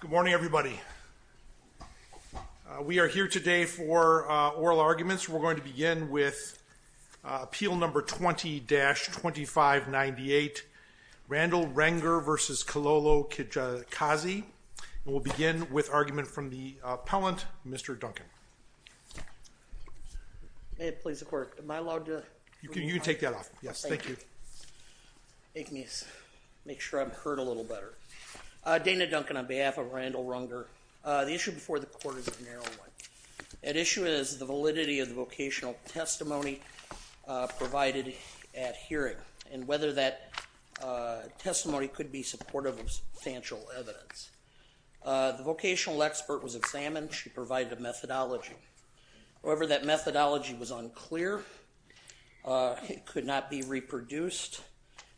Good morning, everybody. We are here today for oral arguments. We're going to begin with appeal number 20-2598, Randall Ruenger v. Kilolo Kijakazi, and we'll begin with argument from the appellant, Mr. Duncan. May it please the court, am I allowed to? You can take that off, yes, thank you. Make sure I'm heard a little better. Dana Duncan on behalf of Randall Ruenger. The issue before the court is a narrow one. At issue is the validity of the vocational testimony provided at hearing and whether that testimony could be supportive of substantial evidence. The vocational expert was examined. She provided a methodology. However, that methodology was unclear. It could not be reproduced.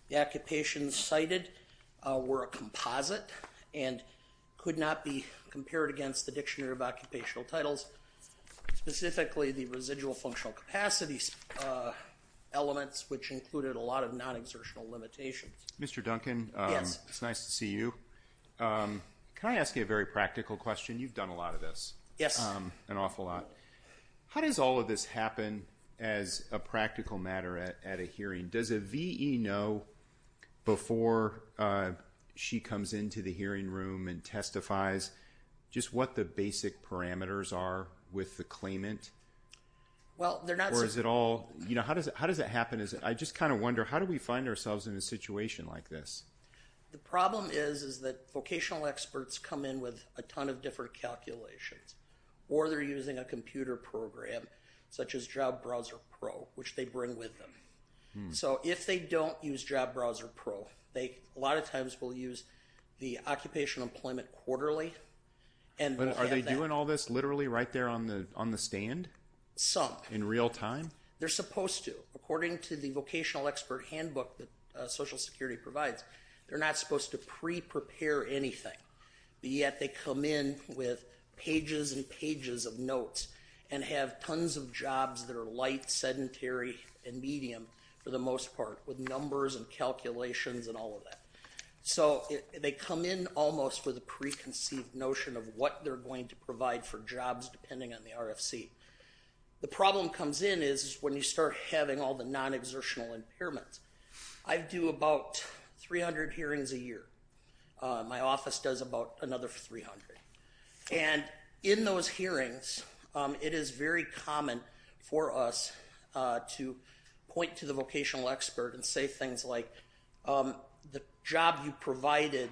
The occupations cited were a composite and could not be compared against the Dictionary of Occupational Titles, specifically the residual functional capacities elements, which included a lot of non-exertional limitations. Mr. Duncan, it's nice to see you. Can I ask you a very practical question? You've done a lot of this, an awful lot. How does all of this happen as a practical matter at a hearing? Does a V.E. know before she comes into the hearing room and testifies just what the basic parameters are with the claimant? Or is it all, you know, how does it happen? I just kind of wonder, how do we find ourselves in a situation like this? The problem is that vocational experts come in with a ton of different calculations. Or they're using a computer program such as Job Browser Pro, which they bring with them. So if they don't use Job Browser Pro, they a lot of times will use the Occupational Employment Quarterly. Are they doing all this literally right there on the stand? Some. In real time? They're supposed to. According to the vocational expert handbook that Social Security provides, they're not supposed to pre-prepare anything. Yet they come in with pages and pages of notes and have tons of jobs that are light, sedentary, and medium for the most part, with numbers and calculations and all of that. So they come in almost with a preconceived notion of what they're going to provide for jobs depending on the RFC. The problem comes in is when you start having all the non-exertional impairments. I do about 300 hearings a year. My office does about another 300. And in those hearings, it is very common for us to point to the vocational expert and say things like, the job you provided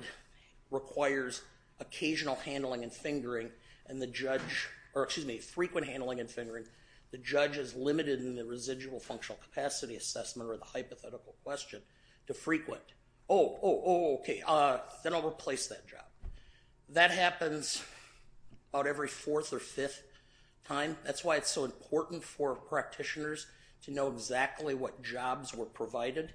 requires occasional handling and fingering and the judge, or excuse me, frequent handling and fingering. The judge is limited in the residual functional capacity assessment or the hypothetical question to frequent. Oh, oh, oh, okay, then I'll replace that job. That happens about every fourth or fifth time. That's why it's so important for practitioners to know exactly what jobs were provided.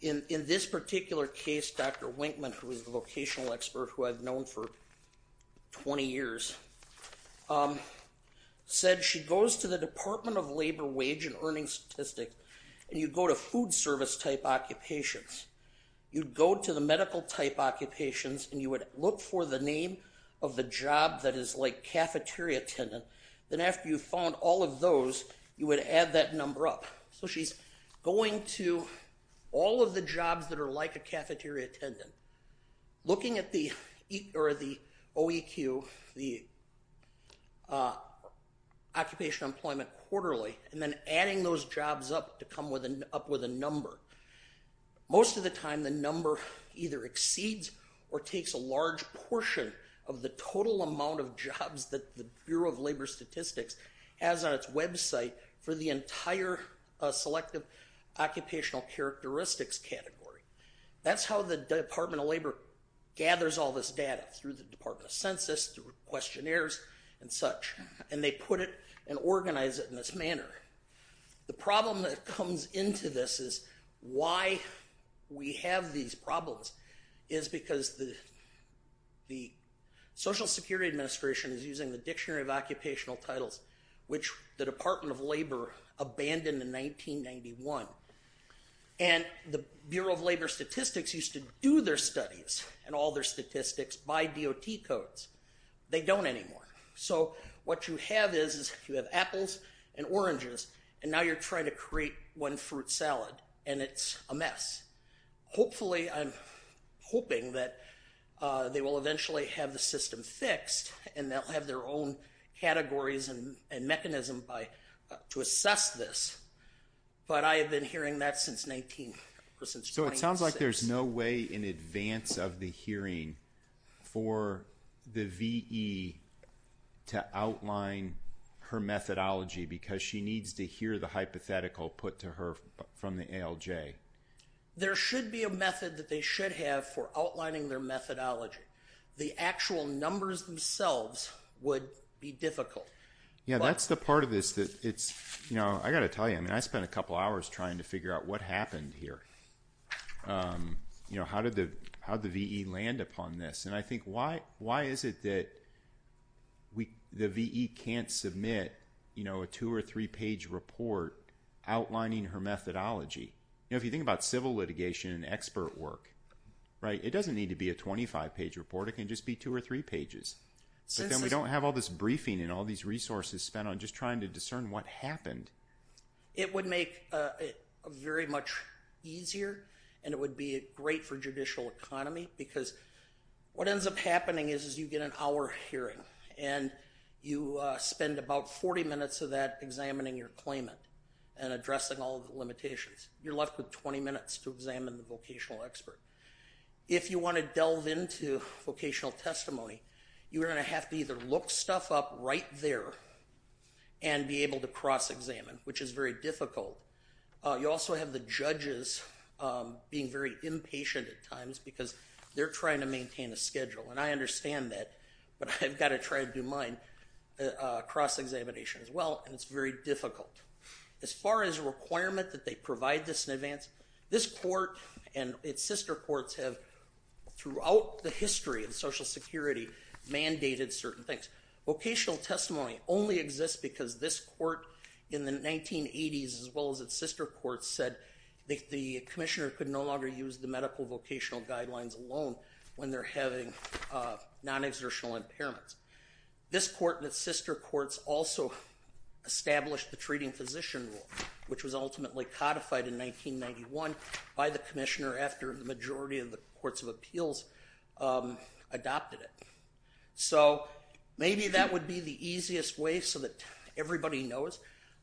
In this particular case, Dr. Winkman, who is the vocational expert who I've known for 20 years, said she goes to the Department of Labor, Wage, and Earnings Statistics, and you go to food service type occupations, you go to the medical type occupations, and you would look for the name of the job that is like cafeteria attendant, then after you found all of those, you would add that number up. So she's going to all of the jobs that are like a cafeteria attendant, looking at the OEQ, the Occupational Employment Quarterly, and then adding those jobs up to come with a number. Most of the time, the number either exceeds or takes a large portion of the total amount of jobs that the Bureau of Labor Statistics has on its website for the entire Selective Occupational Characteristics category. That's how the Department of Labor gathers all this data, through the Department of Census, through questionnaires, and such, and they put it and organize it in this manner. The problem that comes into this is, why we have these problems, is because the Social Security Administration is using the Dictionary of Occupational Titles, which the Department of Labor abandoned in 1991, and the Bureau of Labor Statistics used to do their studies and all their statistics by DOT codes. They don't anymore. So what you have is, you have apples and oranges, and now you're trying to create one fruit salad, and it's a mess. Hopefully, I'm hoping that they will eventually have the system fixed, and they'll have their own categories and mechanism to assess this, but I have been hearing that since 1996. It sounds like there's no way in advance of the hearing for the V.E. to outline her methodology, because she needs to hear the hypothetical put to her from the ALJ. There should be a method that they should have for outlining their methodology. The actual numbers themselves would be difficult. Yeah, that's the part of this that it's, you know, I've got to tell you, I spent a couple hours trying to figure out what happened here. You know, how did the V.E. land upon this? And I think, why is it that the V.E. can't submit, you know, a two or three-page report outlining her methodology? You know, if you think about civil litigation and expert work, right, it doesn't need to be a 25-page report, it can just be two or three pages, but then we don't have all this briefing and all these resources spent on just trying to discern what happened. It would make it very much easier, and it would be great for judicial economy, because what ends up happening is you get an hour hearing, and you spend about 40 minutes of that examining your claimant and addressing all the limitations. You're left with 20 minutes to examine the vocational expert. If you want to delve into vocational testimony, you're going to have to either look stuff up right there and be able to cross-examine, which is very difficult. You also have the judges being very impatient at times, because they're trying to maintain a schedule, and I understand that, but I've got to try to do mine, cross-examination as well, and it's very difficult. As far as requirement that they provide this in advance, this court and its sister courts have, throughout the history of Social Security, mandated certain things. Vocational testimony only exists because this court in the 1980s, as well as its sister courts, said the commissioner could no longer use the medical vocational guidelines alone when they're having non-exertional impairments. This court and its sister courts also established the treating physician rule, which was ultimately codified in 1991 by the commissioner after the majority of the courts of appeals adopted it. So maybe that would be the easiest way so that everybody knows.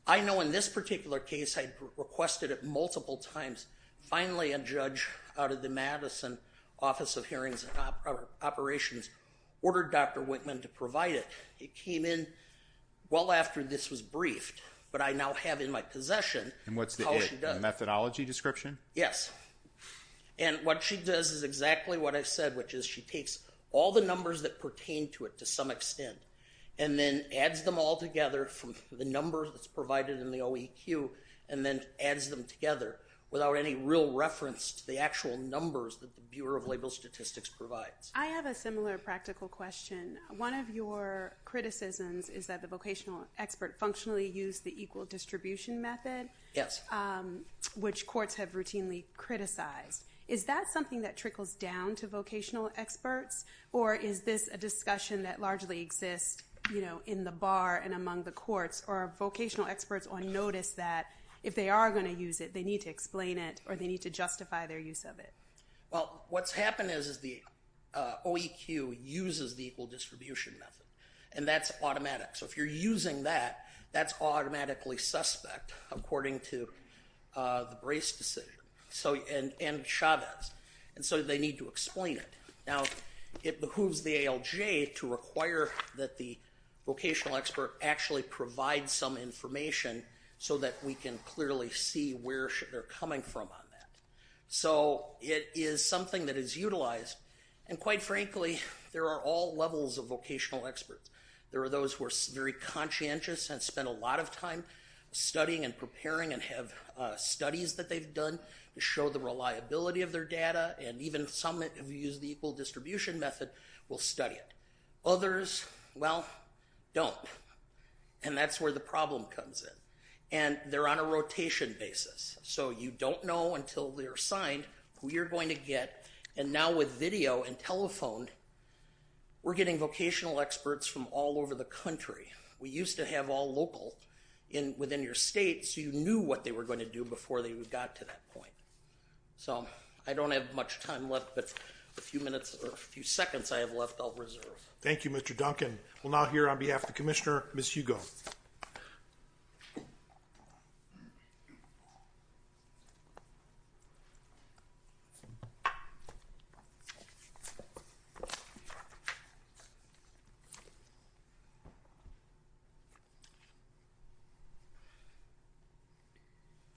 I know in this particular case, I requested it multiple times. Finally, a judge out of the Madison Office of Hearings and Operations ordered Dr. Wittman to provide it. It came in well after this was briefed, but I now have in my possession- And what's the it? The methodology description? Yes. And what she does is exactly what I said, which is she takes all the numbers that pertain to it to some extent, and then adds them all together from the numbers that's provided in the OEQ, and then adds them together without any real reference to the actual numbers that the Bureau of Label Statistics provides. I have a similar practical question. One of your criticisms is that the vocational expert functionally used the equal distribution method, which courts have routinely criticized. Is that something that trickles down to vocational experts, or is this a discussion that largely exists in the bar and among the courts, or are vocational experts on notice that if they are going to use it, they need to explain it, or they need to justify their use of it? Well, what's happened is the OEQ uses the equal distribution method, and that's automatic. So if you're using that, that's automatically suspect, according to the Brace decision, and Chavez, and so they need to explain it. Now it behooves the ALJ to require that the vocational expert actually provide some information so that we can clearly see where they're coming from on that. So it is something that is utilized, and quite frankly, there are all levels of vocational experts. There are those who are very conscientious and spend a lot of time studying and preparing and have studies that they've done to show the reliability of their data, and even some that have used the equal distribution method will study it. Others, well, don't, and that's where the problem comes in, and they're on a rotation basis, so you don't know until they're assigned who you're going to get, and now with video and telephone, we're getting vocational experts from all over the country. We used to have all local within your state, so you knew what they were going to do before they got to that point. So I don't have much time left, but a few minutes or a few seconds I have left I'll reserve. Thank you, Mr. Duncan. We'll now hear on behalf of the Commissioner, Ms. Hugo.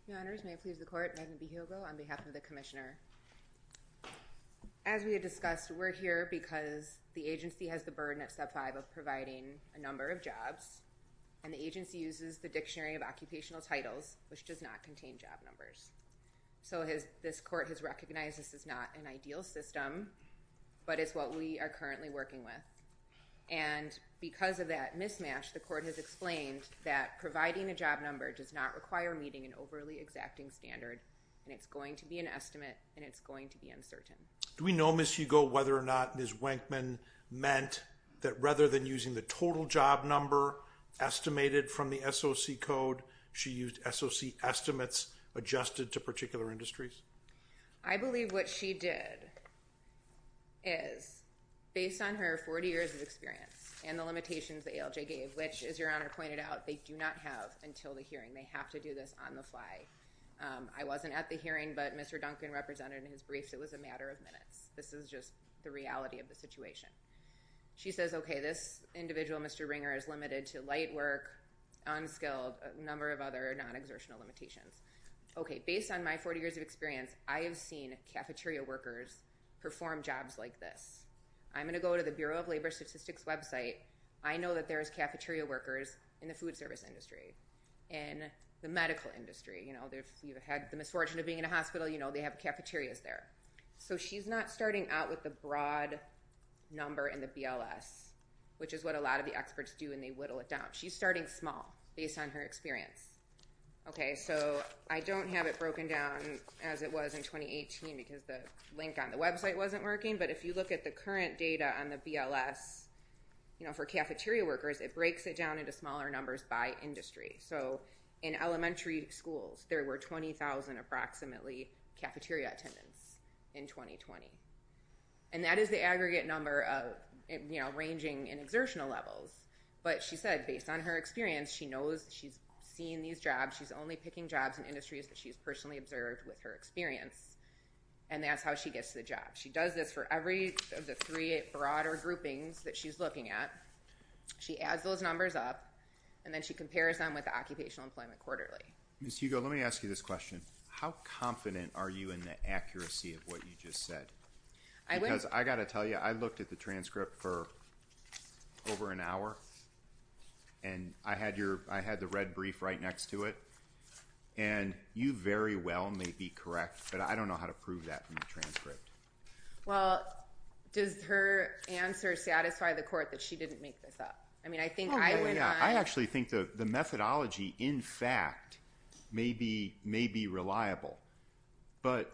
Your Honors, may it please the Court, Megan B. Hugo on behalf of the Commissioner. As we had discussed, we're here because the agency has the burden at Step 5 of providing a number of jobs, and the agency uses the Dictionary of Occupational Titles, which does not contain job numbers. So this Court has recognized this is not an ideal system, but it's what we are currently working with, and because of that mismatch, the Court has explained that providing a job number does not require meeting an overly exacting standard, and it's going to be an estimate, and it's going to be uncertain. Do we know, Ms. Hugo, whether or not Ms. Wankman meant that rather than using the total job number estimated from the SOC code, she used SOC estimates adjusted to particular industries? I believe what she did is, based on her 40 years of experience and the limitations that ALJ gave, which, as Your Honor pointed out, they do not have until the hearing. They have to do this on the fly. I wasn't at the hearing, but Mr. Duncan represented in his briefs it was a matter of minutes. This is just the reality of the situation. She says, okay, this individual, Mr. Ringer, is limited to light work, unskilled, a number of other non-exertional limitations. Okay, based on my 40 years of experience, I have seen cafeteria workers perform jobs like this. I'm going to go to the Bureau of Labor Statistics website. I know that there is cafeteria workers in the food service industry, in the medical industry. If you've had the misfortune of being in a hospital, you know they have cafeterias there. So she's not starting out with the broad number in the BLS, which is what a lot of the experts do when they whittle it down. She's starting small, based on her experience. Okay, so I don't have it broken down as it was in 2018 because the link on the website wasn't working, but if you look at the current data on the BLS, you know, for cafeteria workers, it breaks it down into smaller numbers by industry. So in elementary schools, there were 20,000 approximately cafeteria attendance in 2020. And that is the aggregate number of, you know, ranging in exertional levels. But she said, based on her experience, she knows she's seen these jobs. She's only picking jobs in industries that she's personally observed with her experience. And that's how she gets the job. She does this for every of the three broader groupings that she's looking at. She adds those numbers up, and then she compares them with the occupational employment quarterly. Ms. Hugo, let me ask you this question. How confident are you in the accuracy of what you just said? Because I've got to tell you, I looked at the transcript for over an hour, and I had the red brief right next to it. And you very well may be correct, but I don't know how to prove that from the transcript. Well, does her answer satisfy the court that she didn't make this up? I mean, I think I went on— Oh, yeah. I actually think the methodology, in fact, may be reliable. But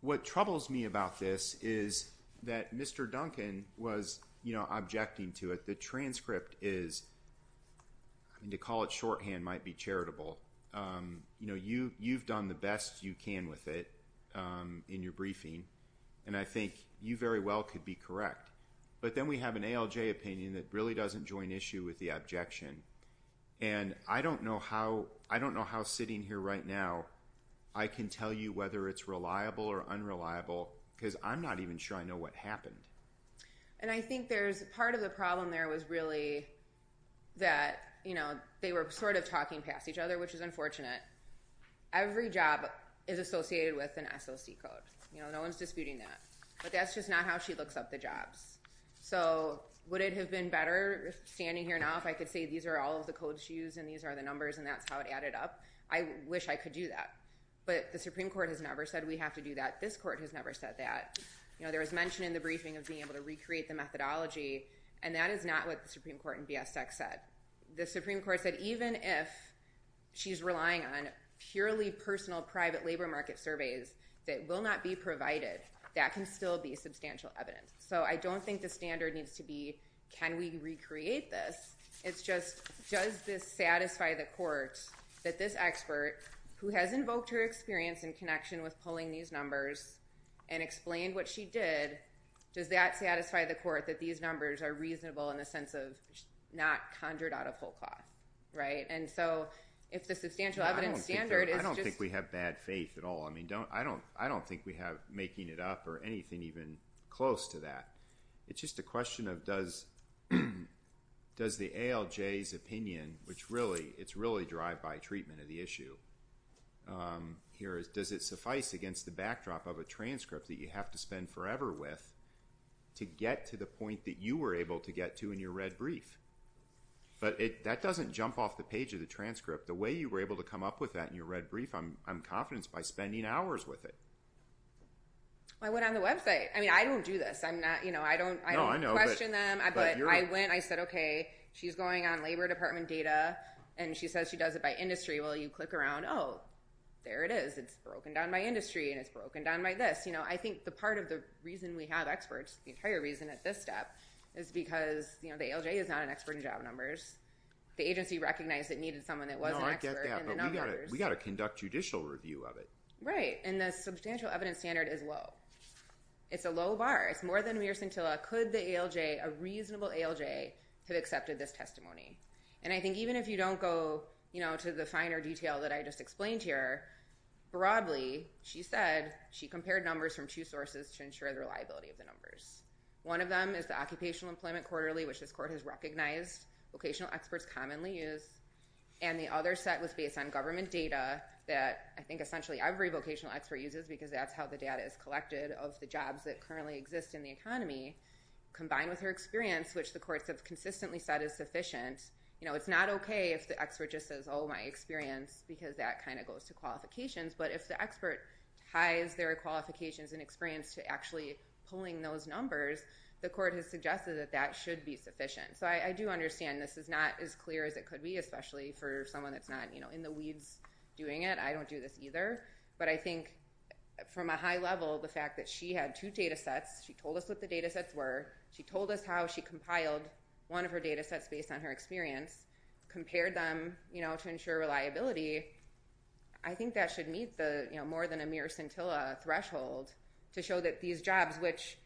what troubles me about this is that Mr. Duncan was, you know, objecting to it. The transcript is—I mean, to call it shorthand might be charitable. You know, you've done the best you can with it in your briefing, and I think you very well could be correct. But then we have an ALJ opinion that really doesn't join issue with the objection. And I don't know how sitting here right now I can tell you whether it's reliable or unreliable because I'm not even sure I know what happened. And I think there's—part of the problem there was really that, you know, they were sort of talking past each other, which is unfortunate. Every job is associated with an SOC code. You know, no one's disputing that. But that's just not how she looks up the jobs. So would it have been better standing here now if I could say these are all of the codes she used and these are the numbers and that's how it added up? I wish I could do that. But the Supreme Court has never said we have to do that. This court has never said that. You know, there was mention in the briefing of being able to recreate the methodology, and that is not what the Supreme Court in B.S. Tech said. The Supreme Court said even if she's relying on purely personal private labor market surveys that will not be provided, that can still be substantial evidence. So I don't think the standard needs to be, can we recreate this? It's just, does this satisfy the court that this expert, who has invoked her experience and connection with pulling these numbers and explained what she did, does that satisfy the court that these numbers are reasonable in the sense of not conjured out of whole cloth, right? And so, if the substantial evidence standard is just... I don't think we have bad faith at all. I don't think we have making it up or anything even close to that. It's just a question of does the ALJ's opinion, which really, it's really derived by treatment of the issue here, does it suffice against the backdrop of a transcript that you have to spend forever with to get to the point that you were able to get to in your red brief? But that doesn't jump off the page of the transcript. The way you were able to come up with that in your red brief, I'm confident it's by spending hours with it. I went on the website. I mean, I don't do this. I'm not, you know, I don't question them. No, I know, but you're not. But I went, I said, okay, she's going on Labor Department data, and she says she does it by industry. Well, you click around. Oh, there it is. It's broken down by industry, and it's broken down by this. You know, I think the part of the reason we have experts, the entire reason at this step is because, you know, the ALJ is not an expert in job numbers. The agency recognized it needed someone that was an expert in the numbers. No, I get that, but we got to conduct judicial review of it. Right, and the substantial evidence standard is low. It's a low bar. It's more than mere scintilla. Could the ALJ, a reasonable ALJ, have accepted this testimony? And I think even if you don't go, you know, to the finer detail that I just explained here, broadly, she said she compared numbers from two sources to ensure the reliability of the numbers. One of them is the Occupational Employment Quarterly, which this court has recognized vocational experts commonly use, and the other set was based on government data that I think essentially every vocational expert uses because that's how the data is collected of the jobs that currently exist in the economy, combined with her experience, which the court has consistently said is sufficient. You know, it's not okay if the expert just says, oh, my experience, because that kind of goes to qualifications, but if the expert ties their qualifications and experience to actually pulling those numbers, the court has suggested that that should be sufficient. So I do understand this is not as clear as it could be, especially for someone that's not, you know, in the weeds doing it. I don't do this either. But I think from a high level, the fact that she had two data sets, she told us what the data sets were, she told us how she compiled one of her data sets based on her experience, compared them, you know, to ensure reliability, I think that should meet the, you know, more than a mere scintilla threshold to show that these jobs, which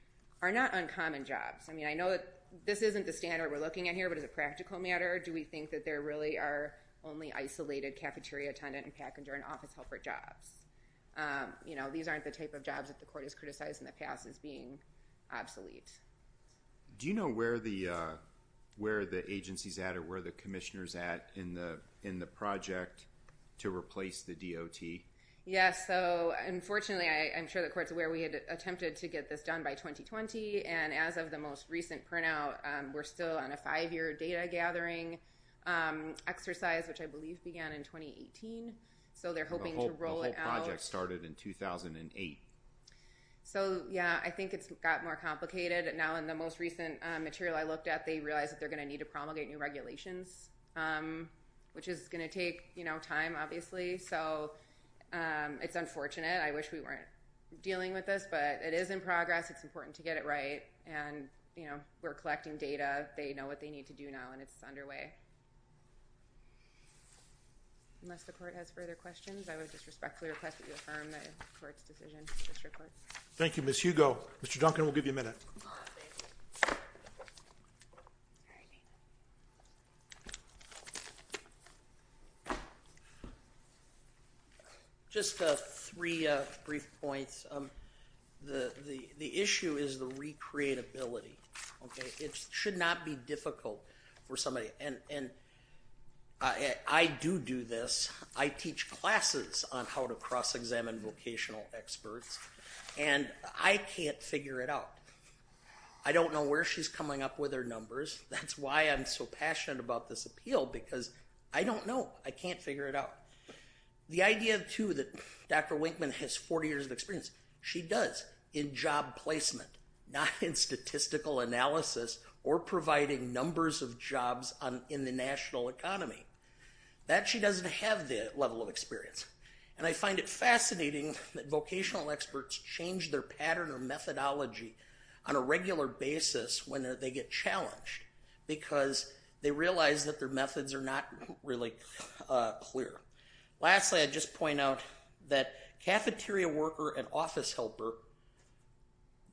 are not uncommon jobs, I mean, I know that this isn't the standard we're looking at here, but as a practical matter, do we think that there really are only isolated cafeteria, tenant and packager and office helper jobs? You know, these aren't the type of jobs that the court has criticized in the past as being obsolete. Do you know where the agency's at or where the commissioner's at in the project to replace the DOT? Yes. So unfortunately, I'm sure the court's aware we had attempted to get this done by 2020, and as of the most recent printout, we're still on a five-year data gathering exercise, which I believe began in 2018. So they're hoping to roll it out. The whole project started in 2008. So, yeah, I think it's got more complicated now in the most recent material I looked at, they realized that they're going to need to promulgate new regulations, which is going to take, you know, time, obviously. So it's unfortunate. I wish we weren't dealing with this, but it is in progress. It's important to get it right, and, you know, we're collecting data. They know what they need to do now, and it's underway. Unless the court has further questions, I would just respectfully request that you affirm the court's decision, District Courts. Thank you, Ms. Hugo. Mr. Duncan, we'll give you a minute. Just three brief points. The issue is the recreatability, okay? It should not be difficult for somebody, and I do do this. I teach classes on how to cross-examine vocational experts, and I can't figure it out. I don't know where she's coming up with her numbers. That's why I'm so passionate about this appeal, because I don't know. I can't figure it out. The idea, too, that Dr. Winkman has 40 years of experience. She does in job placement, not in statistical analysis or providing numbers of jobs in the national economy. That she doesn't have the level of experience, and I find it fascinating that vocational experts change their pattern or methodology on a regular basis when they get challenged, because they realize that their methods are not really clear. Lastly, I'd just point out that cafeteria worker and office helper,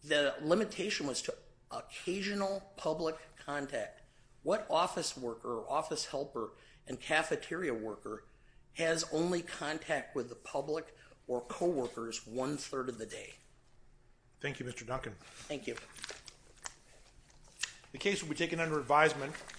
the limitation was to occasional public contact. What office worker or office helper and cafeteria worker has only contact with the public or co-workers one-third of the day? Thank you, Mr. Duncan. Thank you. The case will be taken under advisement.